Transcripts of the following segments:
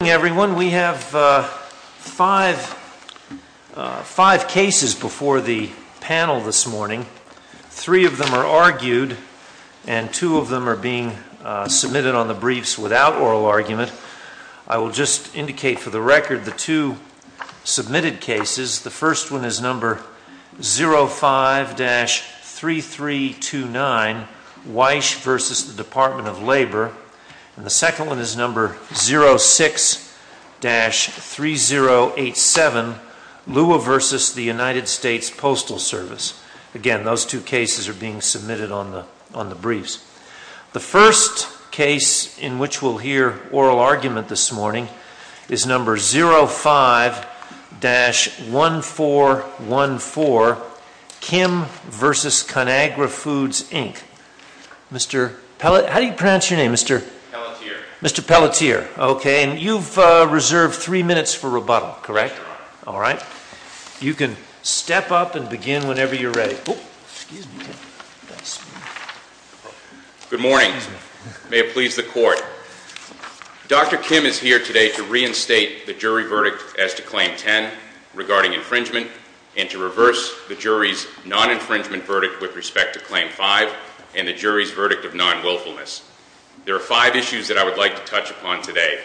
Good morning, everyone. We have five cases before the panel this morning. Three of them are argued and two of them are being submitted on the briefs without oral argument. I will just indicate for the record the two submitted cases. The first one is number 05-3329, Weich v. Department of Labor. The second one is number 06-3087, Lua v. United States Postal Service. Again, those two cases are being submitted on the briefs. The first case in which we will hear oral argument this morning is number 05-1414, Kim v. Conagra Foods Inc. Mr. Pelletier, you have reserved three minutes for rebuttal. You can step up and begin whenever you are ready. Good morning. May it please the Court. Dr. Kim is here today to reinstate the jury verdict as to Claim 10 regarding infringement and to reverse the jury's non-infringement verdict with respect to Claim 5 and the jury's verdict of non-willfulness. There are five issues that I would like to touch upon today.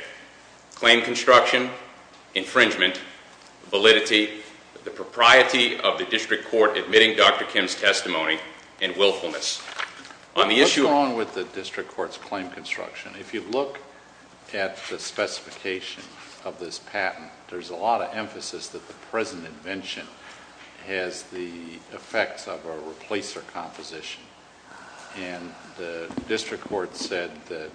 Claim construction, infringement, validity, the propriety of the district court admitting Dr. Kim's testimony, and willfulness. On the issue What is wrong with the district court's claim construction? If you look at the specification of this patent, there is a lot of emphasis that the present invention has the effects of a replacer composition. And the district court said that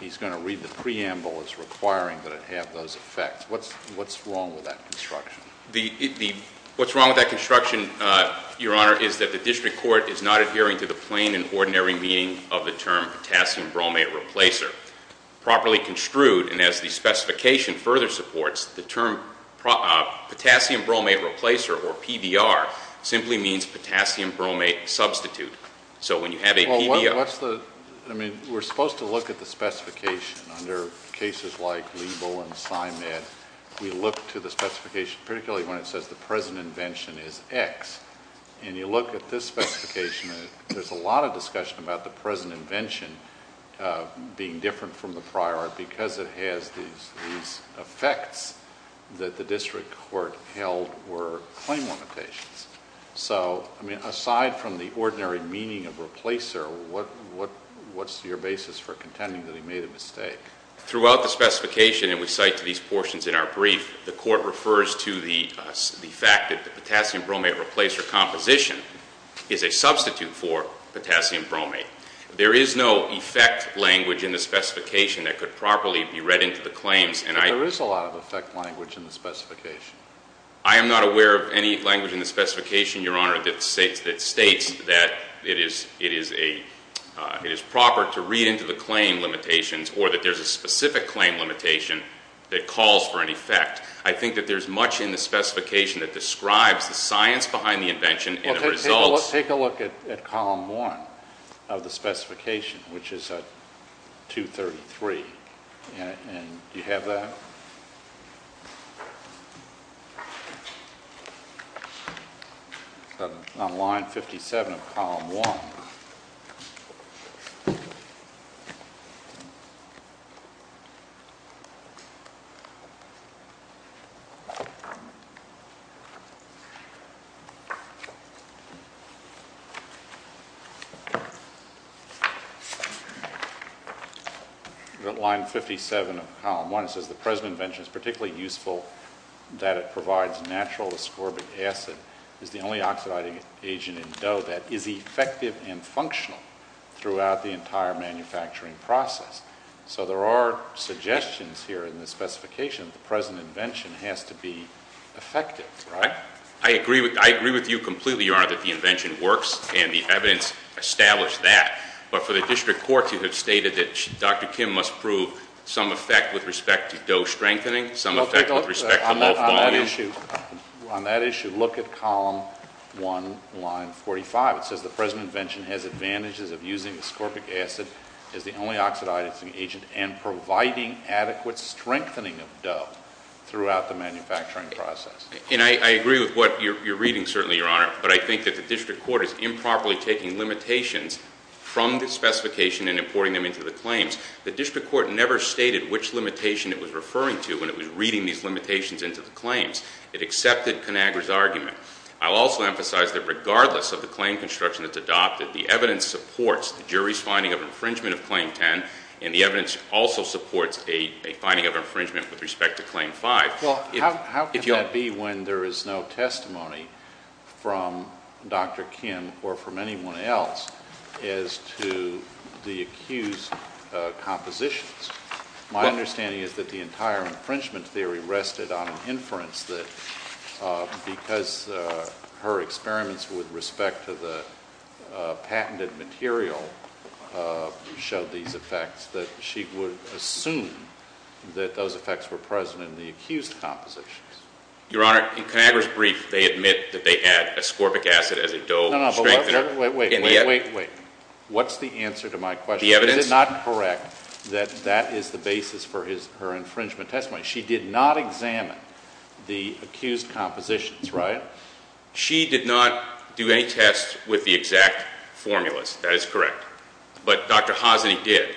he's going to read the preamble as requiring that it have those effects. What's wrong with that construction? What's wrong with that construction, Your Honor, is that the district court is not adhering to the plain and ordinary meaning of the term potassium bromate replacer. Properly construed, and as the specification further supports, the term potassium bromate replacer, or PBR, simply means potassium bromate substitute. So when you have a PBR... Well, what's the... I mean, we're supposed to look at the specification under cases like Lebo and Simed. We look to the specification, particularly when it says the present invention is X. And you look at this specification, there's a lot of discussion about the present invention being different from the prior because it has these effects that the district court held were claim limitations. So, I mean, aside from the ordinary meaning of replacer, what's your basis for contending that he made a mistake? Throughout the specification, and we cite these portions in our brief, the court refers to the fact that the potassium bromate replacer composition is a substitute for potassium bromate. There is no effect language in the specification that could properly be read into the claims, and I... I am not aware of any language in the specification, Your Honor, that states that it is proper to read into the claim limitations or that there's a specific claim limitation that calls for an effect. I think that there's much in the specification that describes the science behind the invention and the results... Well, take a look at Column 1 of the specification, which is at 233, and do you have that? It's on line 57 of Column 1. We're at line 57 of Column 1. It says, The President's invention is particularly useful that it provides natural ascorbic acid as the only oxidizing agent in dough that is effective and functional throughout the entire manufacturing process. So there are suggestions here in the specification that the President's invention has to be effective, right? I agree with you completely, Your Honor, that the invention works, and the evidence established that. But for the district courts, you have stated that Dr. Kim must prove some effect with respect to dough strengthening, some effect with respect to... The President's invention has advantages of using ascorbic acid as the only oxidizing agent and providing adequate strengthening of dough throughout the manufacturing process. And I agree with what you're reading, certainly, Your Honor, but I think that the district court is improperly taking limitations from the specification and importing them into the claims. The district court never stated which limitation it was referring to when it was reading these limitations into the claims. It accepted Conagra's argument. I'll also emphasize that regardless of the claim construction that's adopted, the evidence supports the jury's finding of infringement of Claim 10, and the evidence also supports a finding of infringement with respect to Claim 5. Well, how can that be when there is no testimony from Dr. Kim or from anyone else as to the accused compositions? My understanding is that the entire infringement theory rested on an inference that because her experiments with respect to the patented material showed these effects, that she would assume that those effects were present in the accused compositions. Your Honor, in Conagra's brief, they admit that they add ascorbic acid as a dough strengthener in the evidence. No, no, but wait, wait, wait, wait, wait, wait. What's the answer to my question? The evidence? Is it not correct that that is the basis for his – her infringement testimony? She did not examine the accused compositions, right? She did not do any tests with the exact formulas. That is correct. But Dr. Hosny did.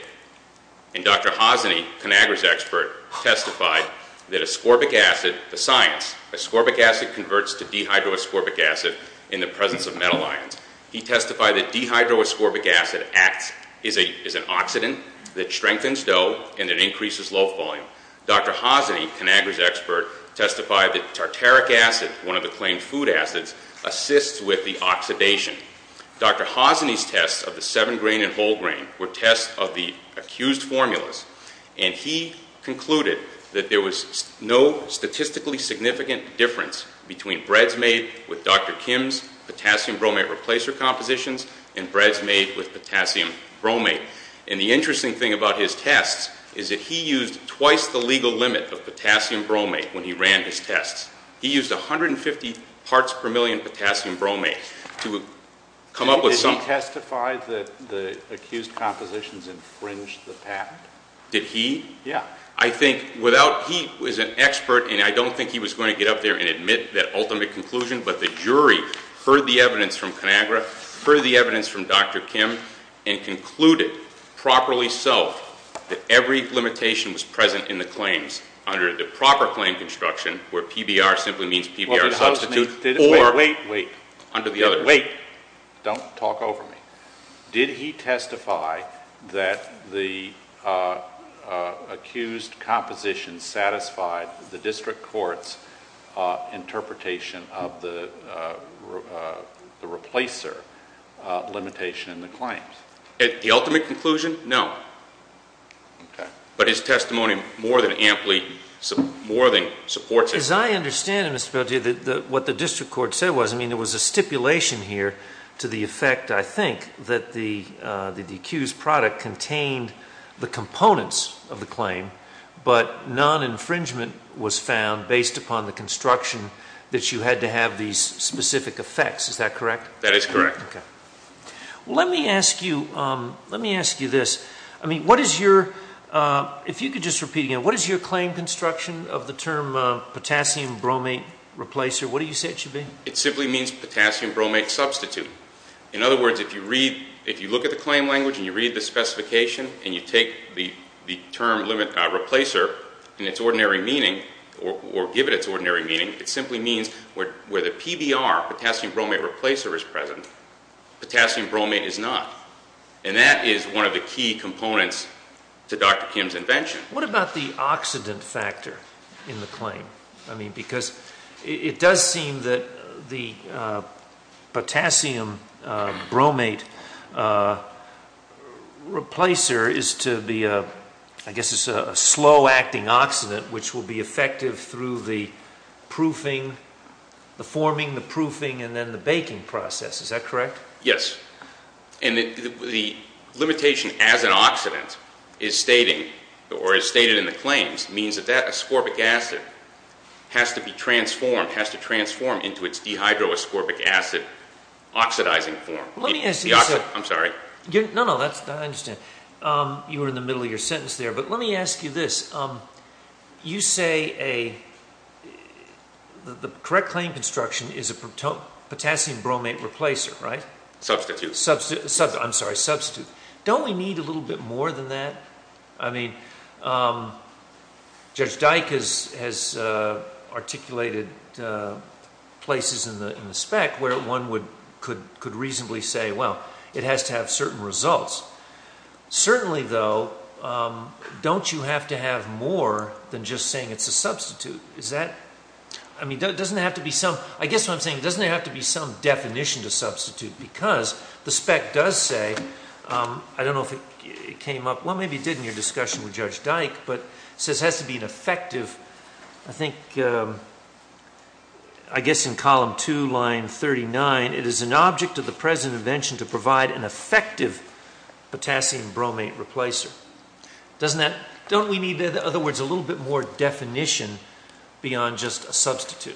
And Dr. Hosny, Conagra's expert, testified that ascorbic acid – the science – ascorbic acid converts to dehydroascorbic acid in the presence of metal ions. He testified that dehydroascorbic acid acts – is an oxidant that strengthens dough and it increases loaf volume. Dr. Hosny, Conagra's expert, testified that tartaric acid, one of the claimed food acids, assists with the oxidation. Dr. Hosny's tests of the 7-grain and whole grain were tests of the accused formulas, and he concluded that there was no statistically significant difference between breads made with Dr. Kim's potassium bromate replacer compositions and breads made with potassium bromate. And the interesting thing about his tests is that he used twice the legal limit of potassium bromate when he ran his tests. He used 150 parts per million potassium bromate to come up with some – Did he testify that the accused compositions infringed the patent? Did he? Yeah. I think without – he was an expert, and I don't think he was going to get up there and admit that ultimate conclusion, but the jury heard the evidence from Conagra, heard the evidence from Dr. Kim, and concluded, properly so, that every limitation was present in the claims under the proper claim construction, where PBR simply means PBR substitute, or Wait, wait, wait. Under the other – Wait. Don't talk over me. Did he testify that the accused compositions satisfied the limitation in the claims? The ultimate conclusion? No. Okay. But his testimony more than amply – more than supports it. As I understand it, Mr. Boutier, what the district court said was, I mean, there was a stipulation here to the effect, I think, that the accused product contained the components of the claim, but non-infringement was found based upon the construction that you had to have these specific effects. Is that correct? That is correct. Okay. Well, let me ask you – let me ask you this. I mean, what is your – if you could just repeat again, what is your claim construction of the term potassium bromate replacer? What do you say it should be? It simply means potassium bromate substitute. In other words, if you read – if you look at the claim language, and you read the specification, and you take the term replacer in its ordinary meaning, or give it its ordinary meaning, it simply means where the PBR, potassium bromate replacer, is present. Potassium bromate is not. And that is one of the key components to Dr. Kim's invention. What about the oxidant factor in the claim? I mean, because it does seem that the potassium bromate replacer is to be a – I guess it's a slow-acting oxidant, which will be effective through the proofing, the forming, the proofing, and then the baking process. Is that correct? Yes. And the limitation as an oxidant is stating, or is stated in the claims, means that that ascorbic acid has to be transformed, has to transform into its dehydroascorbic acid oxidizing form. Let me ask you – I'm sorry. No, no, that's – I understand. You were in the middle of your sentence there. But you say a – the correct claim construction is a potassium bromate replacer, right? Substitute. Substitute. I'm sorry, substitute. Don't we need a little bit more than that? I mean, Judge Dyke has articulated places in the spec where one could reasonably say, well, it has to have certain results. Certainly, though, don't you have to have more than just saying it's a substitute? Is that – I mean, doesn't it have to be some – I guess what I'm saying, doesn't there have to be some definition to substitute? Because the spec does say – I don't know if it came up – well, maybe it did in your discussion with Judge Dyke, but it says it has to be an effective – I think, I guess in column 2, line 39, it is an object of the present invention to provide an effective potassium bromate replacer. Doesn't that – don't we need, in other words, a little bit more definition beyond just a substitute?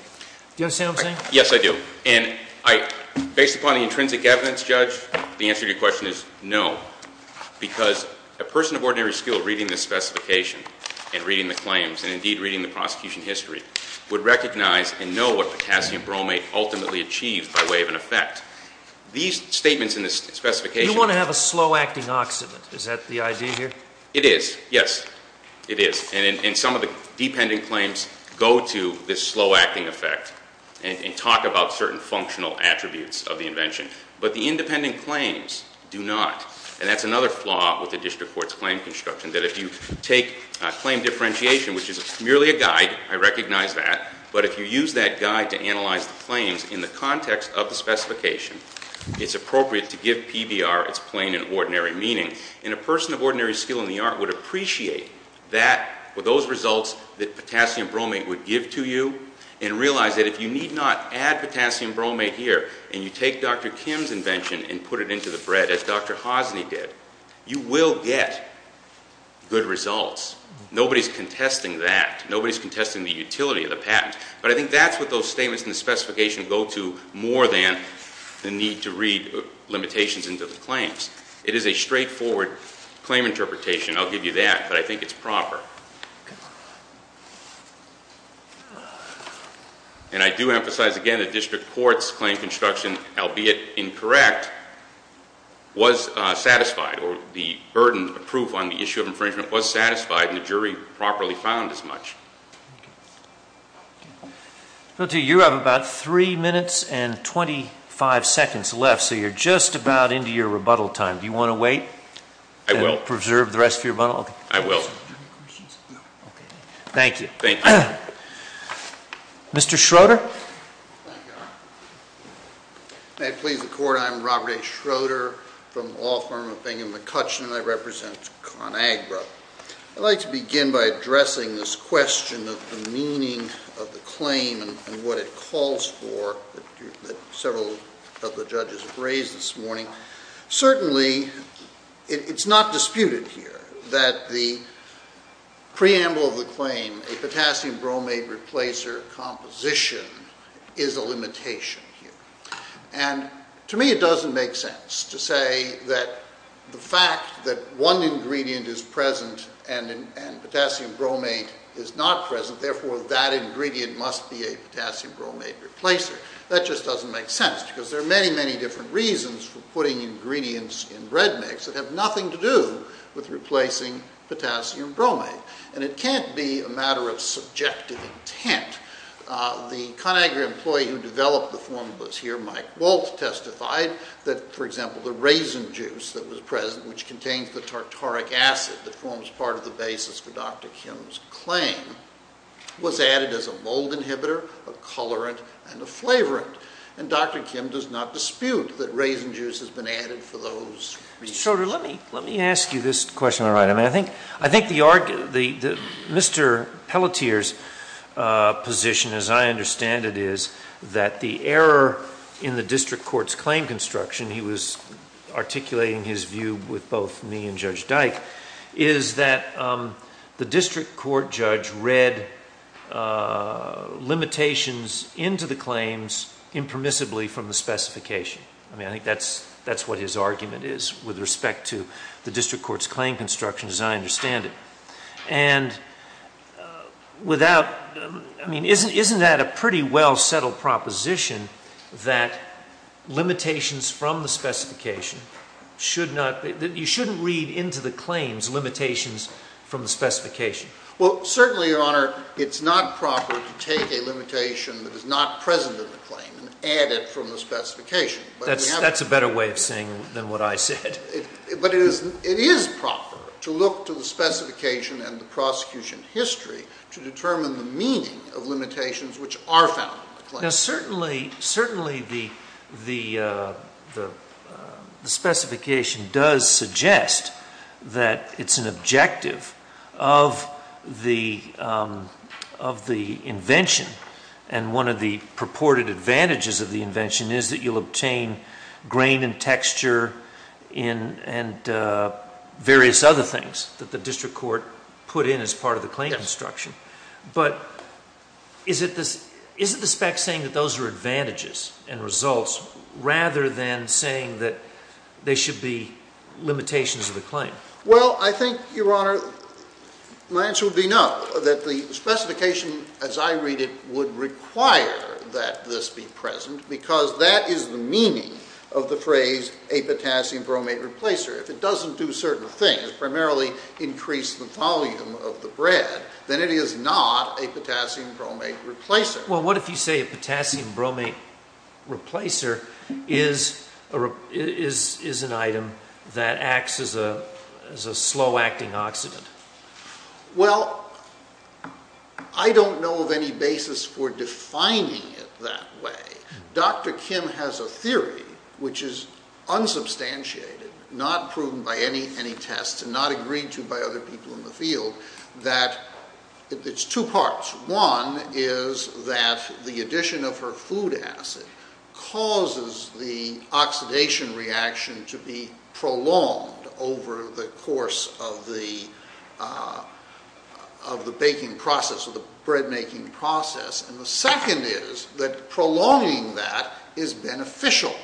Do you understand what I'm saying? Yes, I do. And I – based upon the intrinsic evidence, Judge, the answer to your question is no, because a person of ordinary skill reading this specification and reading the claims and, indeed, reading the prosecution history, would recognize and know what potassium bromate is. These statements in this specification – You want to have a slow-acting oxidant. Is that the idea here? It is, yes. It is. And some of the dependent claims go to this slow-acting effect and talk about certain functional attributes of the invention. But the independent claims do not. And that's another flaw with the district court's claim construction, that if you take claim differentiation, which is merely a guide – I recognize that – but if you use that guide to analyze the claims in the context of the specification, it's appropriate to give PBR its plain and ordinary meaning. And a person of ordinary skill in the art would appreciate that – or those results that potassium bromate would give to you and realize that if you need not add potassium bromate here and you take Dr. Kim's invention and put it into the bread, as Dr. Hosny did, you will get good results. Nobody's contesting that. Nobody's contesting the utility of the patent. But I think that's what those statements in the specification go to more than the need to read limitations into the claims. It is a straightforward claim interpretation. I'll give you that, but I think it's proper. And I do emphasize again that district court's claim construction, albeit incorrect, was satisfied, or the burden of proof on the issue of infringement was satisfied and the jury properly found as much. Well, T, you have about three minutes and twenty-five seconds left, so you're just about into your rebuttal time. Do you want to wait and preserve the rest of your rebuttal? I will. Thank you. Mr. Schroeder? May it please the Court, I am Robert A. Schroeder from the law firm of Bingham & McCutcheon and I represent ConAgra. I'd like to begin by addressing this question of the meaning of the claim and what it calls for that several of the judges have raised this morning. Certainly, it's not disputed here that the preamble of the claim, a potassium bromate replacer composition is a limitation here. And to me it doesn't make sense to say that the fact that one ingredient is present and potassium bromate is not present, therefore that ingredient must be a potassium bromate replacer. That just doesn't make sense because there are many, many different reasons for putting ingredients in bread mix that have nothing to do with replacing potassium bromate. And it can't be a matter of subjective intent. The ConAgra employee who developed the formula here, Mike Waltz, testified that, for example, the raisin juice that was present which contains the tartaric acid that forms part of the basis for Dr. Kim's claim was added as a mold inhibitor, a colorant, and a flavorant. And Dr. Kim does not dispute that raisin juice has been added for those reasons. Mr. Schroeder, let me ask you this question. I think Mr. Pelletier's position, as I understand it, is that the error in the district court's claim construction, he was articulating his view with both me and Judge Dyke, is that the district court judge read limitations into the claims impermissibly from the specification. I mean, I think that's what his argument is with respect to the district court's claim construction, as I understand it. And isn't that a pretty well-settled proposition that limitations from the specification should not be, that you shouldn't read into the claims limitations from the specification? Well, certainly, Your Honor, it's not proper to take a limitation that is not present in the claim and add it from the specification. That's a better way of saying it than what I said. But it is proper to look to the specification and the prosecution history to determine the meaning of limitations which are found in the claim. Now, certainly, the specification does suggest that it's an objective of the invention, and one of the purported advantages of the invention is that you'll obtain grain and texture and various other things that the district court put in as part of the claim construction. But is it the spec saying that those are advantages and results, rather than saying that they should be limitations of the claim? Well, I think, Your Honor, my answer would be no, that the specification as I read it would require that this be present, because that is the meaning of the phrase, a potassium bromate replacer. If it doesn't do certain things, primarily increase the volume of the bread, then it is not a potassium bromate replacer. Well, what if you say a potassium bromate replacer is an item that acts as a slow-acting oxidant? Well, I don't know of any basis for defining it that way. Dr. Kim has a theory which is unsubstantiated, not proven by any tests and not agreed to by other people in the field, that it's two parts. One is that the addition of her food acid causes the oxidation reaction to be prolonged over the course of the baking process, of the bread-making process. And the second is that prolonging that is beneficial.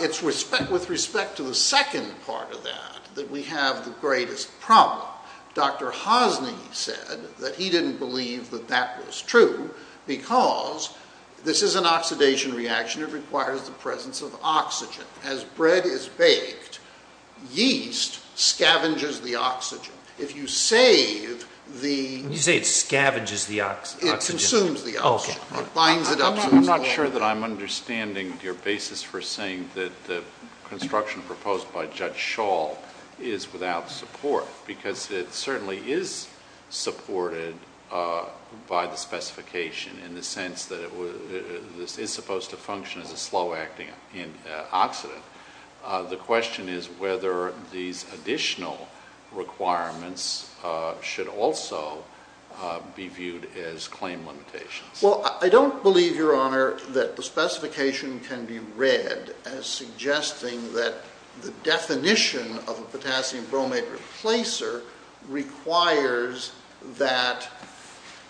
It's with respect to the second part of that that we have the greatest problem. Dr. Hosny said that he didn't believe that that was true, because this is an oxidation reaction and it requires the presence of oxygen. As bread is baked, yeast scavenges the oxygen. If you save the... When you say it scavenges the oxygen... It consumes the oxygen. It binds it up to the soil. I'm not sure that I'm understanding your basis for saying that the construction proposed by Judge Schall is without support, because it certainly is supported by the specification in the sense that this is supposed to function as a slow-acting oxidant. The question is whether these additional requirements should also be viewed as claim limitations. Well, I don't believe, Your Honor, that the specification can be read as suggesting that the definition of a potassium bromate replacer requires that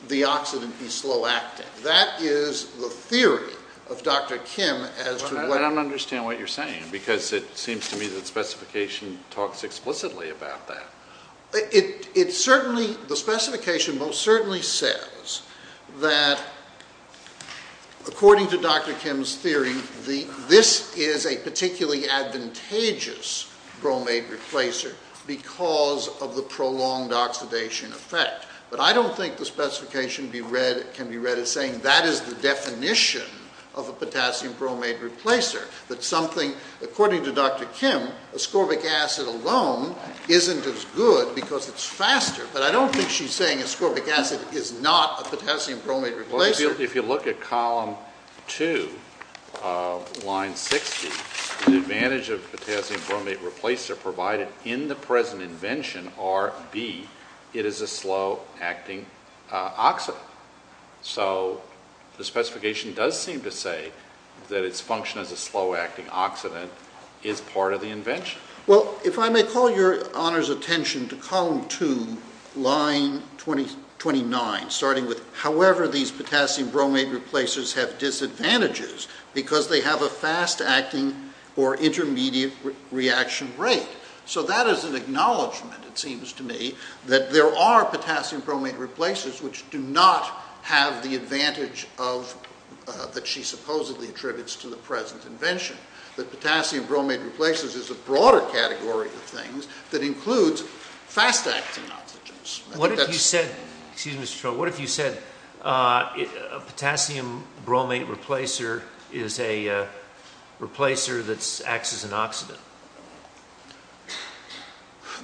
the oxidant be slow-acting. That is the theory of Dr. Kim as to what... I don't understand what you're saying, because it seems to me that the specification talks explicitly about that. It certainly... The specification most certainly says that, according to Dr. Kim's theory, this is a particularly advantageous bromate replacer because of the prolonged oxidation effect. But I don't think the specification can be read as saying that is the definition of a potassium bromate replacer, that something, according to Dr. Kim, ascorbic acid alone isn't as good because it's faster. But I don't think she's saying ascorbic acid is not a potassium bromate replacer. If you look at column 2, line 60, the advantage of potassium bromate replacer provided in the present invention are, B, it is a slow-acting oxidant. So the specification does seem to say that its function as a slow-acting oxidant is part of the invention. Well, if I may call Your Honor's attention to column 2, line 29, starting with, however these potassium bromate replacers have disadvantages because they have a fast-acting or intermediate reaction rate. So that is an acknowledgment, it seems to me, that there are potassium bromate replacers which do not have the advantage that she supposedly attributes to the present invention, that potassium bromate replacers is a broader category of things that includes fast-acting oxygens. What if you said, excuse me, Mr. Trowell, what if you said a potassium bromate replacer is a replacer that acts as an oxidant?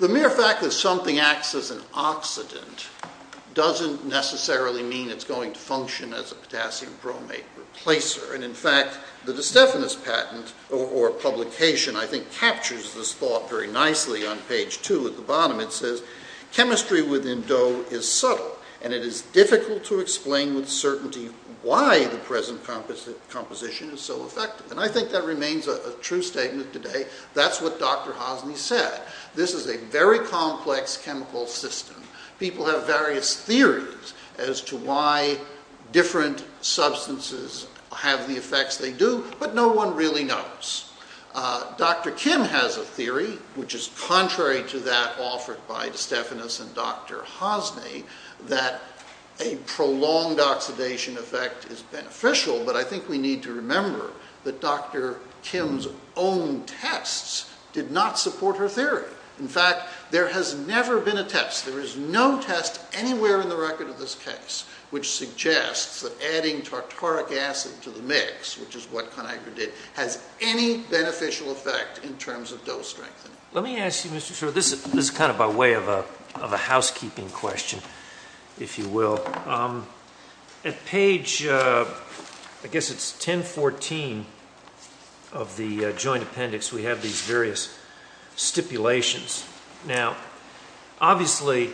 The mere fact that something acts as an oxidant doesn't necessarily mean it's going to function as a potassium bromate replacer. And in fact, the DeStefano's patent, or publication, I think captures this thought very nicely on page 2 at the bottom. It says, chemistry within certainty why the present composition is so effective. And I think that remains a true statement today. That's what Dr. Hosny said. This is a very complex chemical system. People have various theories as to why different substances have the effects they do, but no one really knows. Dr. Kim has a theory, which is contrary to that offered by DeStefano's and Dr. Hosny, that a prolonged oxidation effect is beneficial, but I think we need to remember that Dr. Kim's own tests did not support her theory. In fact, there has never been a test, there is no test anywhere in the record of this case, which suggests that adding tartaric acid to the mix, which is what Conagra did, has any beneficial effect in terms of dose strengthening. Let me ask you, Mr. Schroeder, this is kind of by way of a housekeeping question, if you will. At page 1014 of the Joint Appendix, we have these various stipulations. Now, obviously,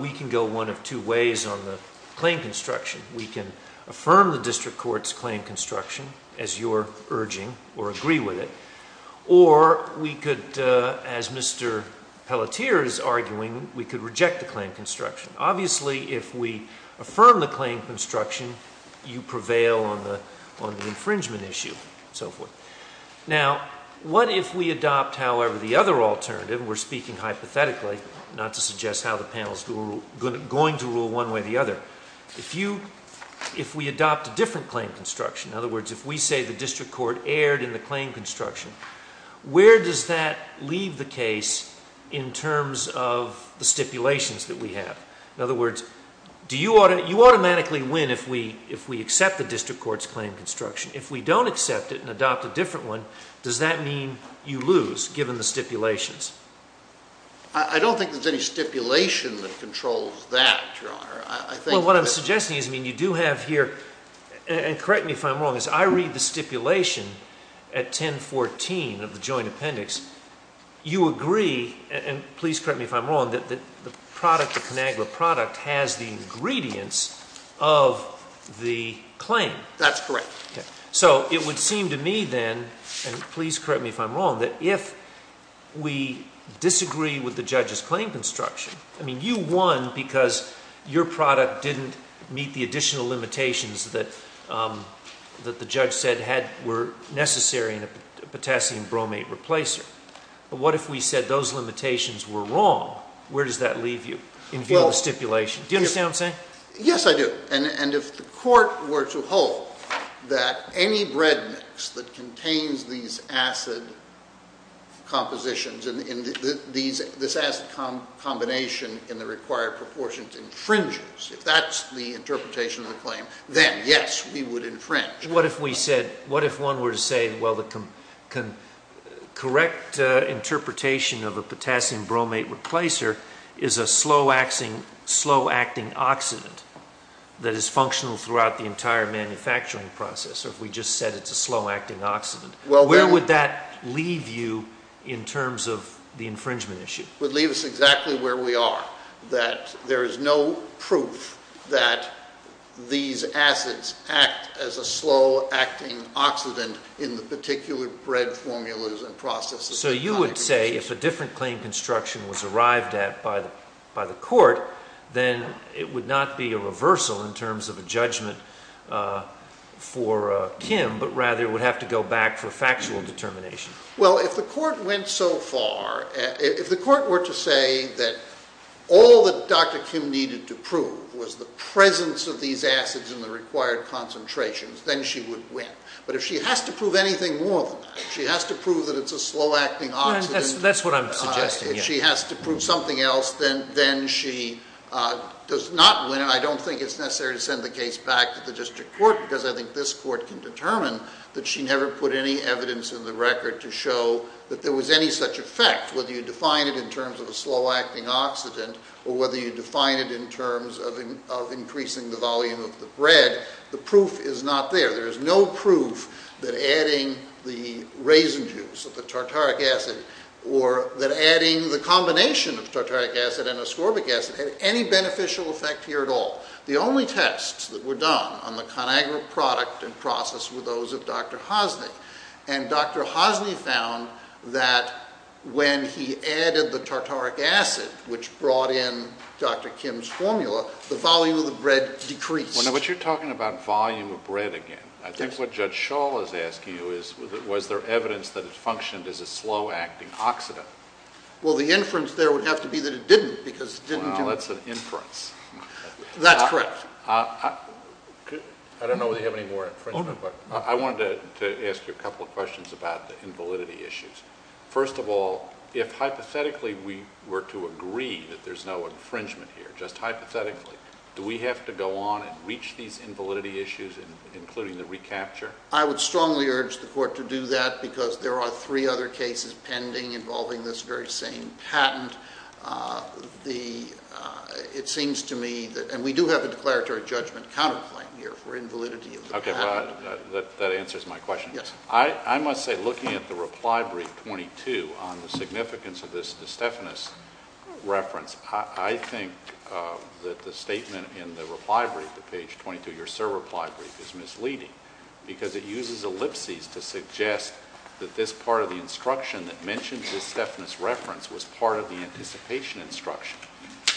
we can go one of two ways on the claim construction. We can affirm the district court's claim construction as you're urging, or agree with it, or we could, as Mr. Pelletier is arguing, we could reject the claim construction. Obviously, if we affirm the claim construction, you prevail on the infringement issue, and so forth. Now, what if we adopt, however, the other alternative, we're speaking hypothetically, not to suggest how the panel is going to rule one way or the other. If we adopt a different claim construction, in other words, if we say the district court erred in the claim construction, where does that leave the case in terms of the stipulations that we have? In other words, you automatically win if we accept the district court's claim construction. If we don't accept it and adopt a different one, does that mean you lose, given the stipulations? I don't think there's any stipulation that controls that, Your Honor. Well, what I'm suggesting is, I mean, you do have here, and correct me if I'm wrong, is I read the stipulation at 1014 of the joint appendix. You agree, and please correct me if I'm wrong, that the product, the ConAgra product, has the ingredients of the claim. That's correct. So it would seem to me then, and please correct me if I'm wrong, that if we disagree with the judge's claim construction, I mean, you won because your product didn't meet the additional limitations that the judge said were necessary in a potassium bromate replacer. But what if we said those limitations were wrong? Where does that leave you in view of the stipulation? Do you understand what I'm saying? Yes, I do. And if the court were to hold that any bread mix that contains these acid compositions, this acid combination in the required proportions infringes, if that's the interpretation of the claim, then yes, we would infringe. What if we said, what if one were to say, well, the correct interpretation of a potassium bromate replacer is a slow-acting oxidant that is functional throughout the entire manufacturing process, or if we just said it's a slow-acting oxidant, where would that leave you in terms of the infringement issue? It would leave us exactly where we are, that there is no proof that these acids act as a slow-acting oxidant in the particular bread formulas and processes. So you would say if a different claim construction was arrived at by the court, then it would not be a reversal in terms of a judgment for Kim, but rather it would have to go back for factual determination. Well, if the court went so far, if the court were to say that all that Dr. Kim needed to prove was the presence of these acids in the required concentrations, then she would win. But if she has to prove anything more than that, if she has to prove that it's a slow-acting oxidant, if she has to prove something else, then she does not win, and I don't think it's necessary to send the case back to the district court, because I think this court can determine that she never put any evidence in the record to show that there was any such effect, whether you define it in terms of a slow-acting oxidant, or whether you define it in terms of increasing the volume of the bread, the proof is not there. There is no proof that adding the raisin juice of the tartaric acid, or that adding the combination of tartaric acid and ascorbic acid had any beneficial effect here at all. The only tests that were done on the ConAgra product and process were those of Dr. Hosny, and Dr. Hosny found that when he added the tartaric acid, which brought in Dr. Kim's formula, the volume of the bread decreased. Well, now, but you're talking about volume of bread again. I think what Judge Schall is asking you is, was there evidence that it functioned as a slow-acting oxidant? Well, the inference there would have to be that it didn't, because it didn't do it. Well, now, that's an inference. That's correct. I don't know whether you have any more infringement, but I wanted to ask you a couple of questions about the invalidity issues. First of all, if hypothetically we were to agree that there's no infringement here, just hypothetically, do we have to go on and reach these invalidity issues, including the recapture? I would strongly urge the Court to do that, because there are three other cases pending involving this very same patent. It seems to me that, and we do have a declaratory judgment counterclaim here for invalidity of the patent. That answers my question. Yes. I must say, looking at the reply brief, 22, on the significance of this De Stefanis reference, I think that the statement in the reply brief, the page 22, your sir reply brief, is misleading, because it uses ellipses to suggest that this part of the instruction that mentions this Stefanis reference was part of the anticipation instruction.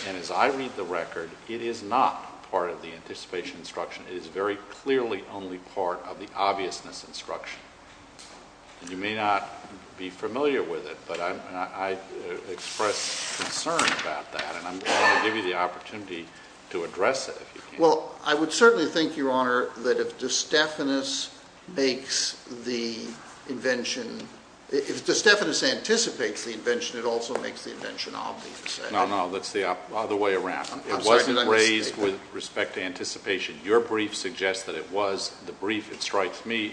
And as I read the record, it is not part of the anticipation instruction. It is very clearly only part of the obviousness instruction. You may not be familiar with it, but I express concern about that, and I'm going to give you the opportunity to address it if you can. Well, I would certainly think, Your Honor, that if De Stefanis anticipates the invention, it also makes the invention obvious. No, no, that's the other way around. It wasn't raised with respect to anticipation. Your reply brief suggests that it was. The brief, it strikes me,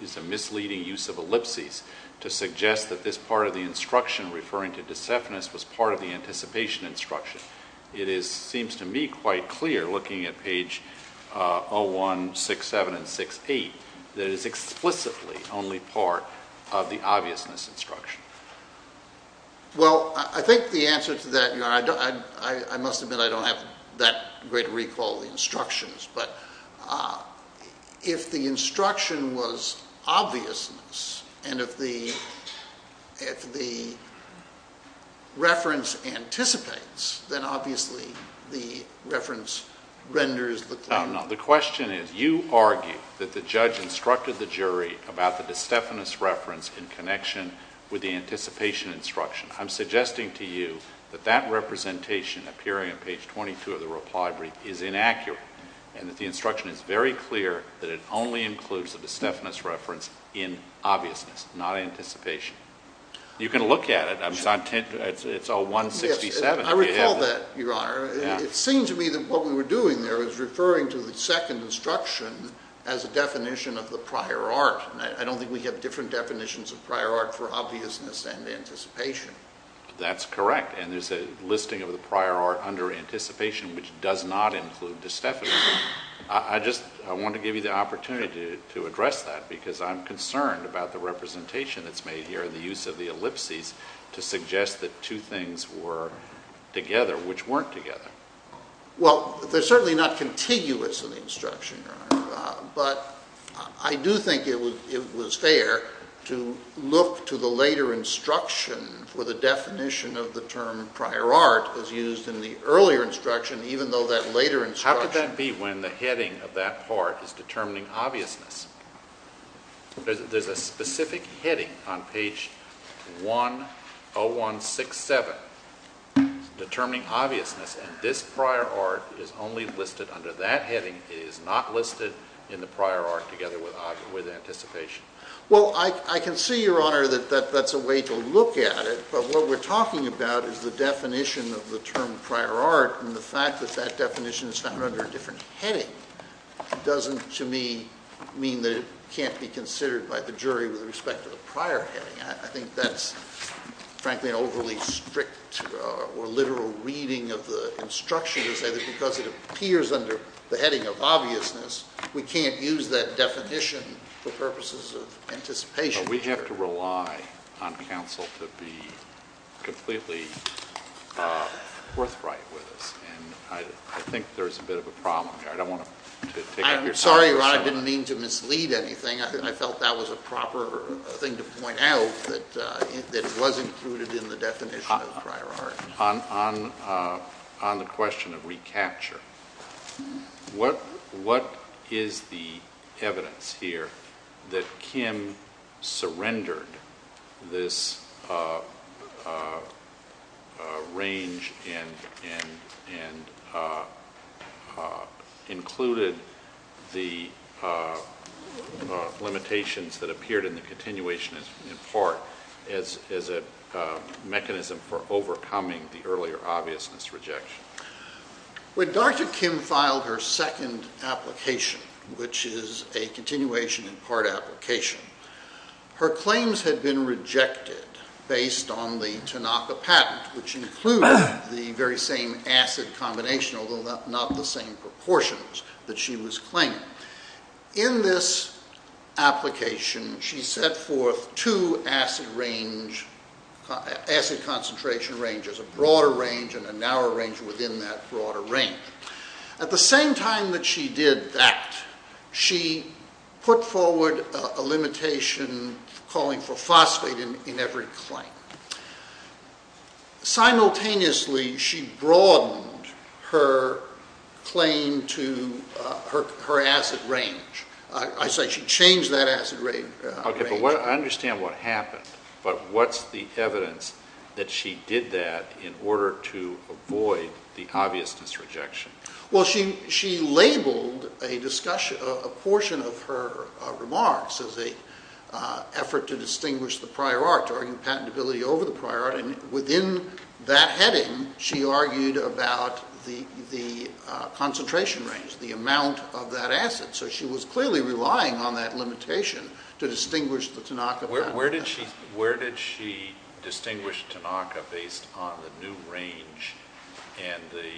is a misleading use of ellipses to suggest that this part of the instruction referring to De Stefanis was part of the anticipation instruction. It seems to me quite clear, looking at page 01, 67, and 68, that it is explicitly only part of the obviousness instruction. Well, I think the answer to that, Your Honor, I must admit I don't have that great recall of the instructions, but if the instruction was obviousness, and if the reference anticipates, then obviously the reference renders the claim. No, no. The question is, you argue that the judge instructed the jury about the De Stefanis reference in connection with the anticipation instruction. I'm suggesting to you that that is inaccurate, and that the instruction is very clear that it only includes the De Stefanis reference in obviousness, not anticipation. You can look at it. It's all 167. I recall that, Your Honor. It seems to me that what we were doing there was referring to the second instruction as a definition of the prior art. I don't think we have different definitions of prior art for obviousness and anticipation. That's correct, and there's a listing of the prior art under anticipation which does not include De Stefanis. I just want to give you the opportunity to address that, because I'm concerned about the representation that's made here, the use of the ellipses to suggest that two things were together which weren't together. Well, they're certainly not contiguous in the instruction, Your Honor, but I do think it was fair to look to the later instruction for the definition of the term prior art as though that later instruction How could that be when the heading of that part is determining obviousness? There's a specific heading on page 10167 determining obviousness, and this prior art is only listed under that heading. It is not listed in the prior art together with anticipation. Well, I can see, Your Honor, that that's a way to look at it, but what we're talking about is the definition of the term prior art, and the fact that that definition is found under a different heading doesn't, to me, mean that it can't be considered by the jury with respect to the prior heading. I think that's, frankly, an overly strict or literal reading of the instruction to say that because it appears under the heading of obviousness, we can't use that definition for purposes of anticipation. We have to rely on counsel to be completely forthright with us, and I think there's a bit of a problem here. I don't want to take up your time. I'm sorry, Your Honor, I didn't mean to mislead anything. I felt that was a proper thing to point out, that it was included in the definition of the prior art. On the question of recapture, what is the evidence here that Kim sought to use in her case that surrendered this range and included the limitations that appeared in the continuation in part as a mechanism for overcoming the earlier obviousness rejection? When Dr. Kim filed her second application, which is a continuation in part application, her claims had been rejected based on the Tanaka patent, which included the very same acid combination, although not the same proportions that she was claiming. In this application, she set forth two acid concentration ranges, a broader range and a narrower range within that broader range. At the same time that she did that, she put forward a limitation calling for phosphate in every claim. Simultaneously, she broadened her claim to her acid range. I say she changed that acid range. Okay, but I understand what happened, but what's the evidence that she did that in order to avoid the obviousness rejection? Well, she labeled a portion of her remarks as an effort to distinguish the prior art, to argue patentability over the prior art, and within that heading, she argued about the concentration range, the amount of that acid. So she was clearly relying on that limitation to distinguish the Tanaka patent. Where did she distinguish Tanaka based on the new range and the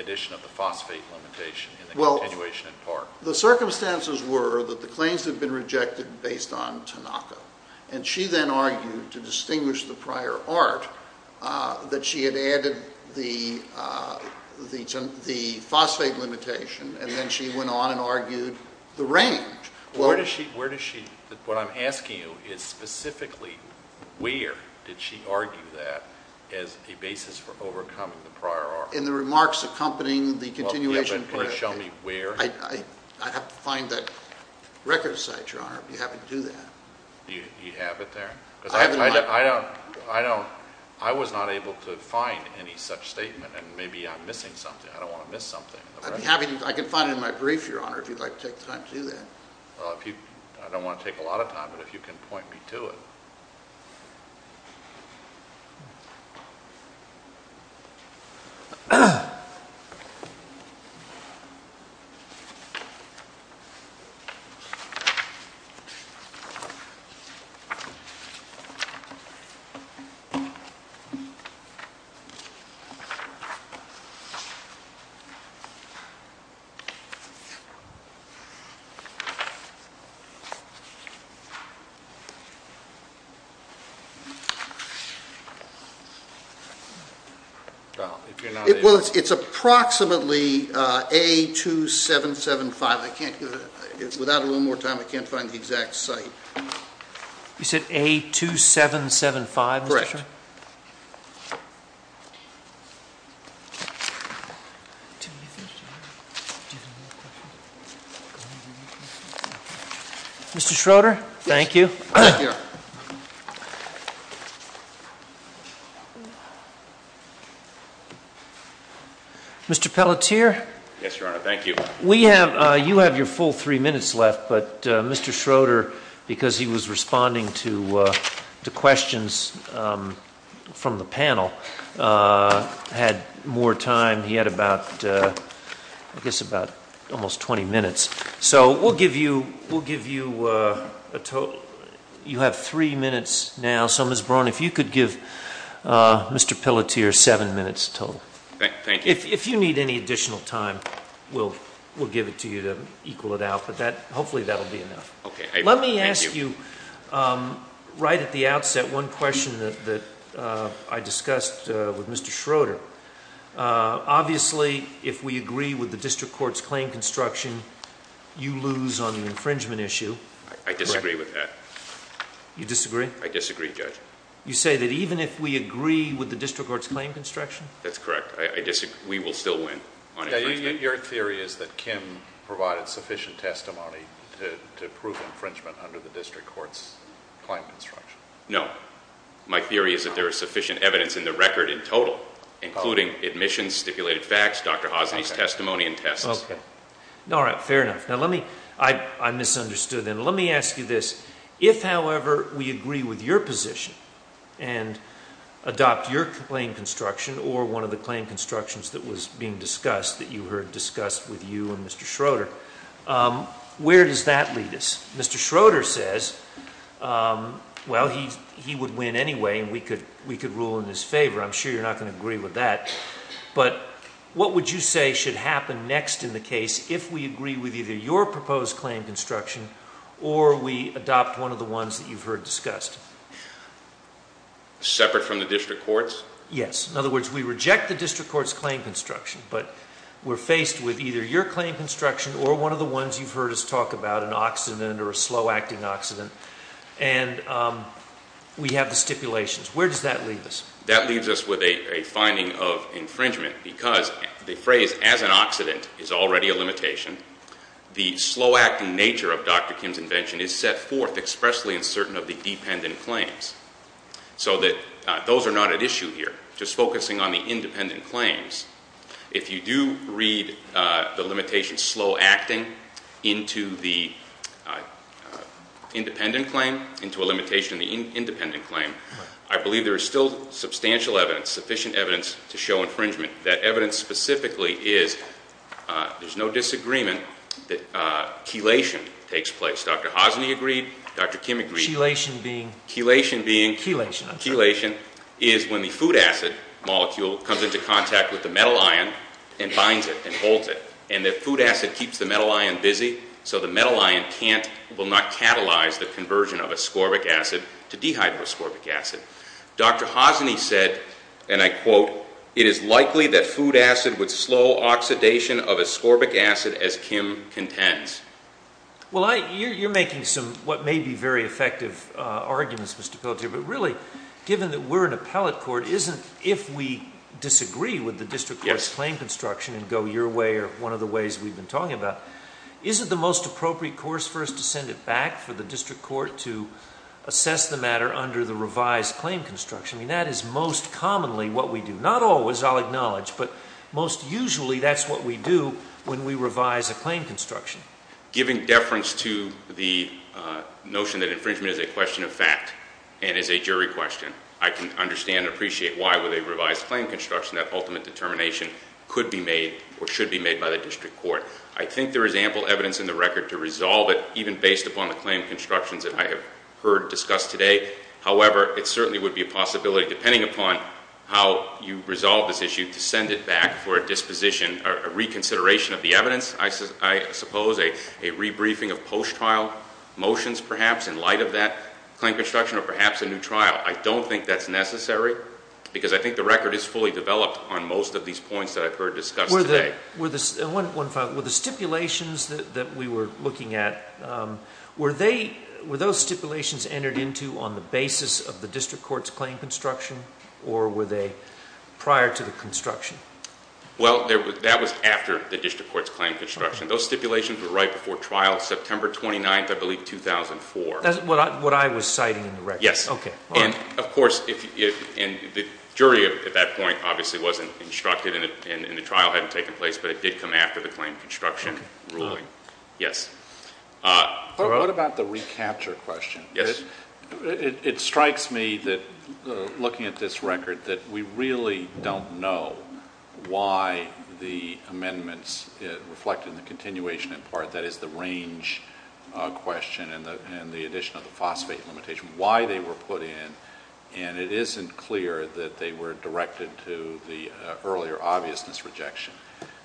addition of the phosphate limitation in the continuation in part? The circumstances were that the claims had been rejected based on Tanaka, and she then argued to distinguish the prior art that she had added the phosphate limitation, and then she went on and argued the range. Where does she, what I'm asking you is specifically where did she argue that as a basis for overcoming the prior art? In the remarks accompanying the continuation. Well, can you show me where? I have to find that record site, Your Honor, if you happen to do that. You have it there, because I don't, I was not able to find any such statement, and maybe I'm missing something. I don't want to miss something. I'd be happy to, I can find it in my brief, Your Honor, if you'd like to take the time to do that. Well, if you, I don't want to take a lot of time, but if you can point me to it. Well, it's approximately A2775. I can't, without a little more time, I can't find the exact site. You said A2775, Mr. Sherman? Mr. Schroeder, thank you. Mr. Pelletier? Yes, Your Honor, thank you. We have, you have your full three minutes left, but Mr. Schroeder, because he was responding to questions from the panel, had more time. He had about, I think it was, I think it was about almost 20 minutes. So we'll give you, we'll give you a total, you have three minutes now. So, Ms. Braun, if you could give Mr. Pelletier seven minutes total. Thank you. If you need any additional time, we'll give it to you to equal it out, but that, hopefully that will be enough. Let me ask you, right at the outset, one question that I discussed with Mr. Schroeder. Obviously, if we agree with the district court's claim construction, you lose on the infringement issue. I disagree with that. You disagree? I disagree, Judge. You say that even if we agree with the district court's claim construction? That's correct. I disagree. We will still win on infringement. Your theory is that Kim provided sufficient testimony to prove infringement under the district court's claim construction? No. My theory is that there is sufficient evidence in the record in total, including admissions, stipulated facts, Dr. Hosny's testimony, and tests. Okay. All right. Fair enough. Now, let me, I misunderstood then. Let me ask you this. If, however, we agree with your position and adopt your claim construction or one of the claim constructions that was being discussed, that you heard discussed with you and Mr. Schroeder, where does that lead us? Mr. Schroeder says, well, he would win anyway and we could rule in his favor. I'm sure you're not going to agree with that, but what would you say should happen next in the case if we agree with either your proposed claim construction or we adopt one of the ones that you've heard discussed? Separate from the district court's? Yes. In other words, we reject the district court's claim construction, but we're faced with either your claim construction or one of the ones you've heard us talk about, an accident or a slow-acting accident, and we have the stipulations. Where does that leave us? That leaves us with a finding of infringement because the phrase, as an accident, is already a limitation. The slow-acting nature of Dr. Kim's invention is set forth expressly and certain of the dependent claims, so that those are not at issue here. Just focusing on the independent claims, if you do read the limitation slow-acting into the independent claim, into the independent claim, you'll see that there's no substantial evidence, sufficient evidence to show infringement. That evidence specifically is, there's no disagreement, that chelation takes place. Dr. Hosny agreed. Dr. Kim agreed. Chelation being? Chelation being? Chelation. Chelation is when the food acid molecule comes into contact with the metal ion and binds it and holds it, and the food acid keeps the metal ion busy so the metal ion will not catalyze the conversion of ascorbic acid to dehydroascorbic acid. Dr. Hosny said, and I quote, it is likely that food acid would slow oxidation of ascorbic acid as Kim contends. Well, I, you're making some what may be very effective arguments, Mr. Pelletier, but really, given that we're an appellate court, isn't, if we disagree with the district court's claim construction and go your way or one of the ways we've been talking about, isn't the most appropriate way for the district court to assess the matter under the revised claim construction? I mean, that is most commonly what we do. Not always, I'll acknowledge, but most usually that's what we do when we revise a claim construction. Giving deference to the notion that infringement is a question of fact and is a jury question, I can understand and appreciate why with a revised claim construction that ultimate determination could be made or should be made by the district court. I think there is ample evidence in the record to resolve it, even based upon the claim constructions that I have heard discussed today. However, it certainly would be a possibility, depending upon how you resolve this issue, to send it back for a disposition, a reconsideration of the evidence, I suppose, a rebriefing of post-trial motions, perhaps, in light of that claim construction or perhaps a new trial. I don't think that's necessary because I think the record is fully developed on most of these points that I've heard discussed today. Were the stipulations that we were looking at, were those stipulations entered into on the basis of the district court's claim construction or were they prior to the construction? Well, that was after the district court's claim construction. Those stipulations were right before trial September 29th, I believe, 2004. That's what I was citing in the record. Yes. Okay. And, of course, the jury at that point obviously wasn't instructed and the trial hadn't taken place, but it did come after the claim construction ruling. Okay. Yes. What about the recapture question? Yes. It strikes me that, looking at this record, that we really don't know why the amendments reflected in the continuation in part, that is, the range question and the addition of the phosphate limitation, why they were put in. And it isn't clear that they were directed to the earlier obviousness rejection.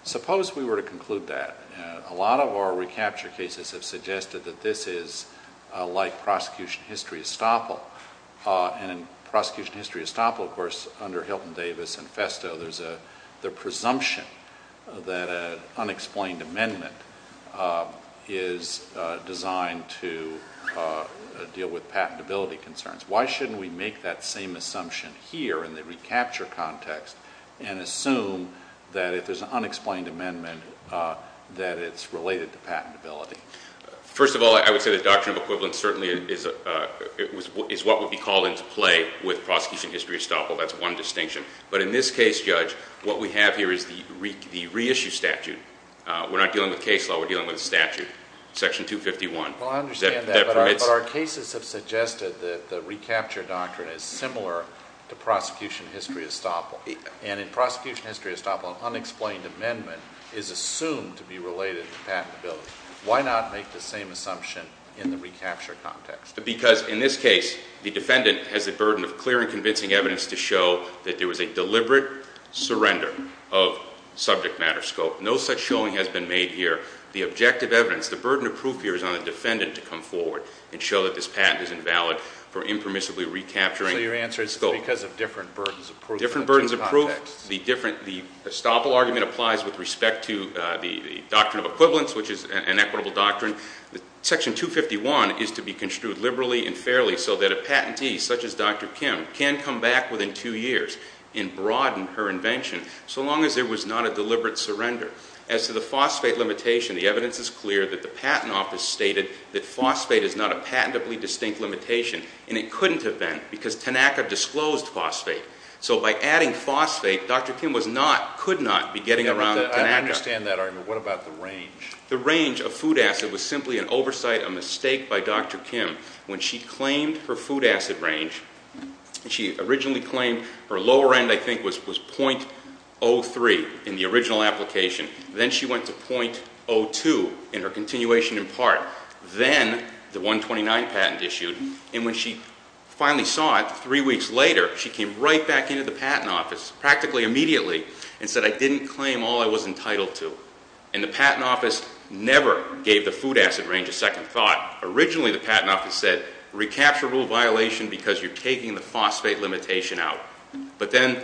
Suppose we were to conclude that. A lot of our recapture cases have suggested that this is like prosecution history estoppel. And in prosecution history estoppel, of course, under Hilton Davis and Festo, there's the presumption that an unexplained amendment is designed to deal with patentability concerns. Why shouldn't we make that same recapture context and assume that if there's an unexplained amendment, that it's related to patentability? First of all, I would say the doctrine of equivalence certainly is what would be called into play with prosecution history estoppel. That's one distinction. But in this case, Judge, what we have here is the reissue statute. We're not dealing with case law. We're dealing with a statute, section 251. Well, I understand that, but our cases have suggested that the recapture doctrine is similar to prosecution history estoppel. And in prosecution history estoppel, an unexplained amendment is assumed to be related to patentability. Why not make the same assumption in the recapture context? Because in this case, the defendant has the burden of clear and convincing evidence to show that there was a deliberate surrender of subject matter scope. No such showing has been made here. The objective evidence, the burden of proof here is on the defendant to come forward and show that this patent is invalid for impermissibly recapturing. So your answer is because of different burdens of proof in the two contexts? Different burdens of proof. The different, the estoppel argument applies with respect to the doctrine of equivalence, which is an equitable doctrine. Section 251 is to be construed liberally and fairly so that a patentee, such as Dr. Kim, can come back within two years and broaden her invention so long as there was not a deliberate surrender. As to the phosphate limitation, the evidence is clear that the Patent Office stated that phosphate is not a patentably distinct limitation, and it couldn't have been because Tanaka disclosed phosphate. So by adding phosphate, Dr. Kim was not, could not be getting around Tanaka. I understand that argument. What about the range? The range of food acid was simply an oversight, a mistake by Dr. Kim. When she claimed her food acid range, she originally claimed her lower end, I think, was .03 in the original 129 patent issued. And when she finally saw it, three weeks later, she came right back into the Patent Office, practically immediately, and said, I didn't claim all I was entitled to. And the Patent Office never gave the food acid range a second thought. Originally the Patent Office said, recapture rule violation because you're taking the phosphate limitation out. But then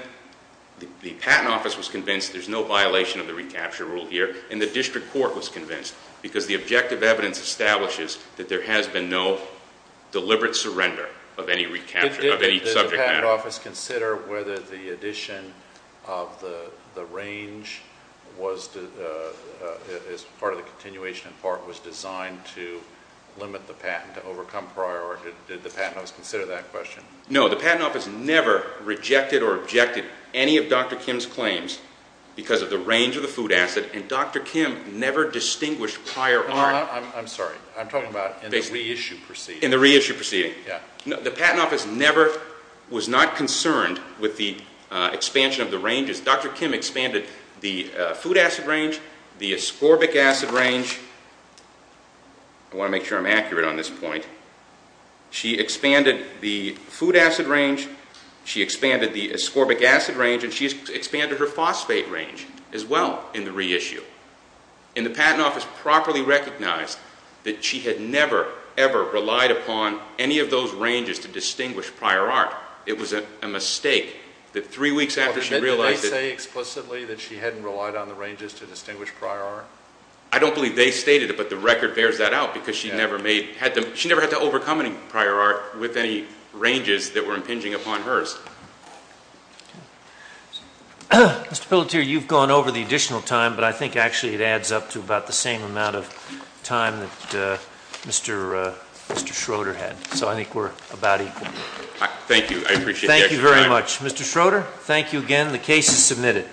the Patent Office was convinced there's no violation of the recapture rule here, and the District Court was convinced, because the objective evidence establishes that there has been no deliberate surrender of any recapture, of any subject matter. Did the Patent Office consider whether the addition of the range was, as part of the continuation in part, was designed to limit the patent, to overcome priority? Did the Patent Office consider that question? No. The Patent Office never rejected or objected any of Dr. Kim's claims because of the range of the food acid, and Dr. Kim never distinguished prior art. I'm sorry. I'm talking about in the reissue proceeding. In the reissue proceeding. Yeah. The Patent Office never was not concerned with the expansion of the ranges. Dr. Kim expanded the food acid range, the ascorbic acid range. I want to make sure I'm accurate on this point. She expanded the food acid range, she expanded the ascorbic acid range, and she expanded her phosphate range as well in the reissue. And the Patent Office properly recognized that she had never, ever relied upon any of those ranges to distinguish prior art. It was a mistake that three weeks after she realized that... Did they say explicitly that she hadn't relied on the ranges to distinguish prior art? I don't believe they stated it, but the record bears that out because she never had to overcome any prior art with any ranges that were impinging upon hers. Mr. Pelletier, you've gone over the additional time, but I think actually it adds up to about the same amount of time that Mr. Schroeder had. So I think we're about equal. Thank you. I appreciate the extra time. Thank you very much. Mr. Schroeder, thank you again. The case is submitted.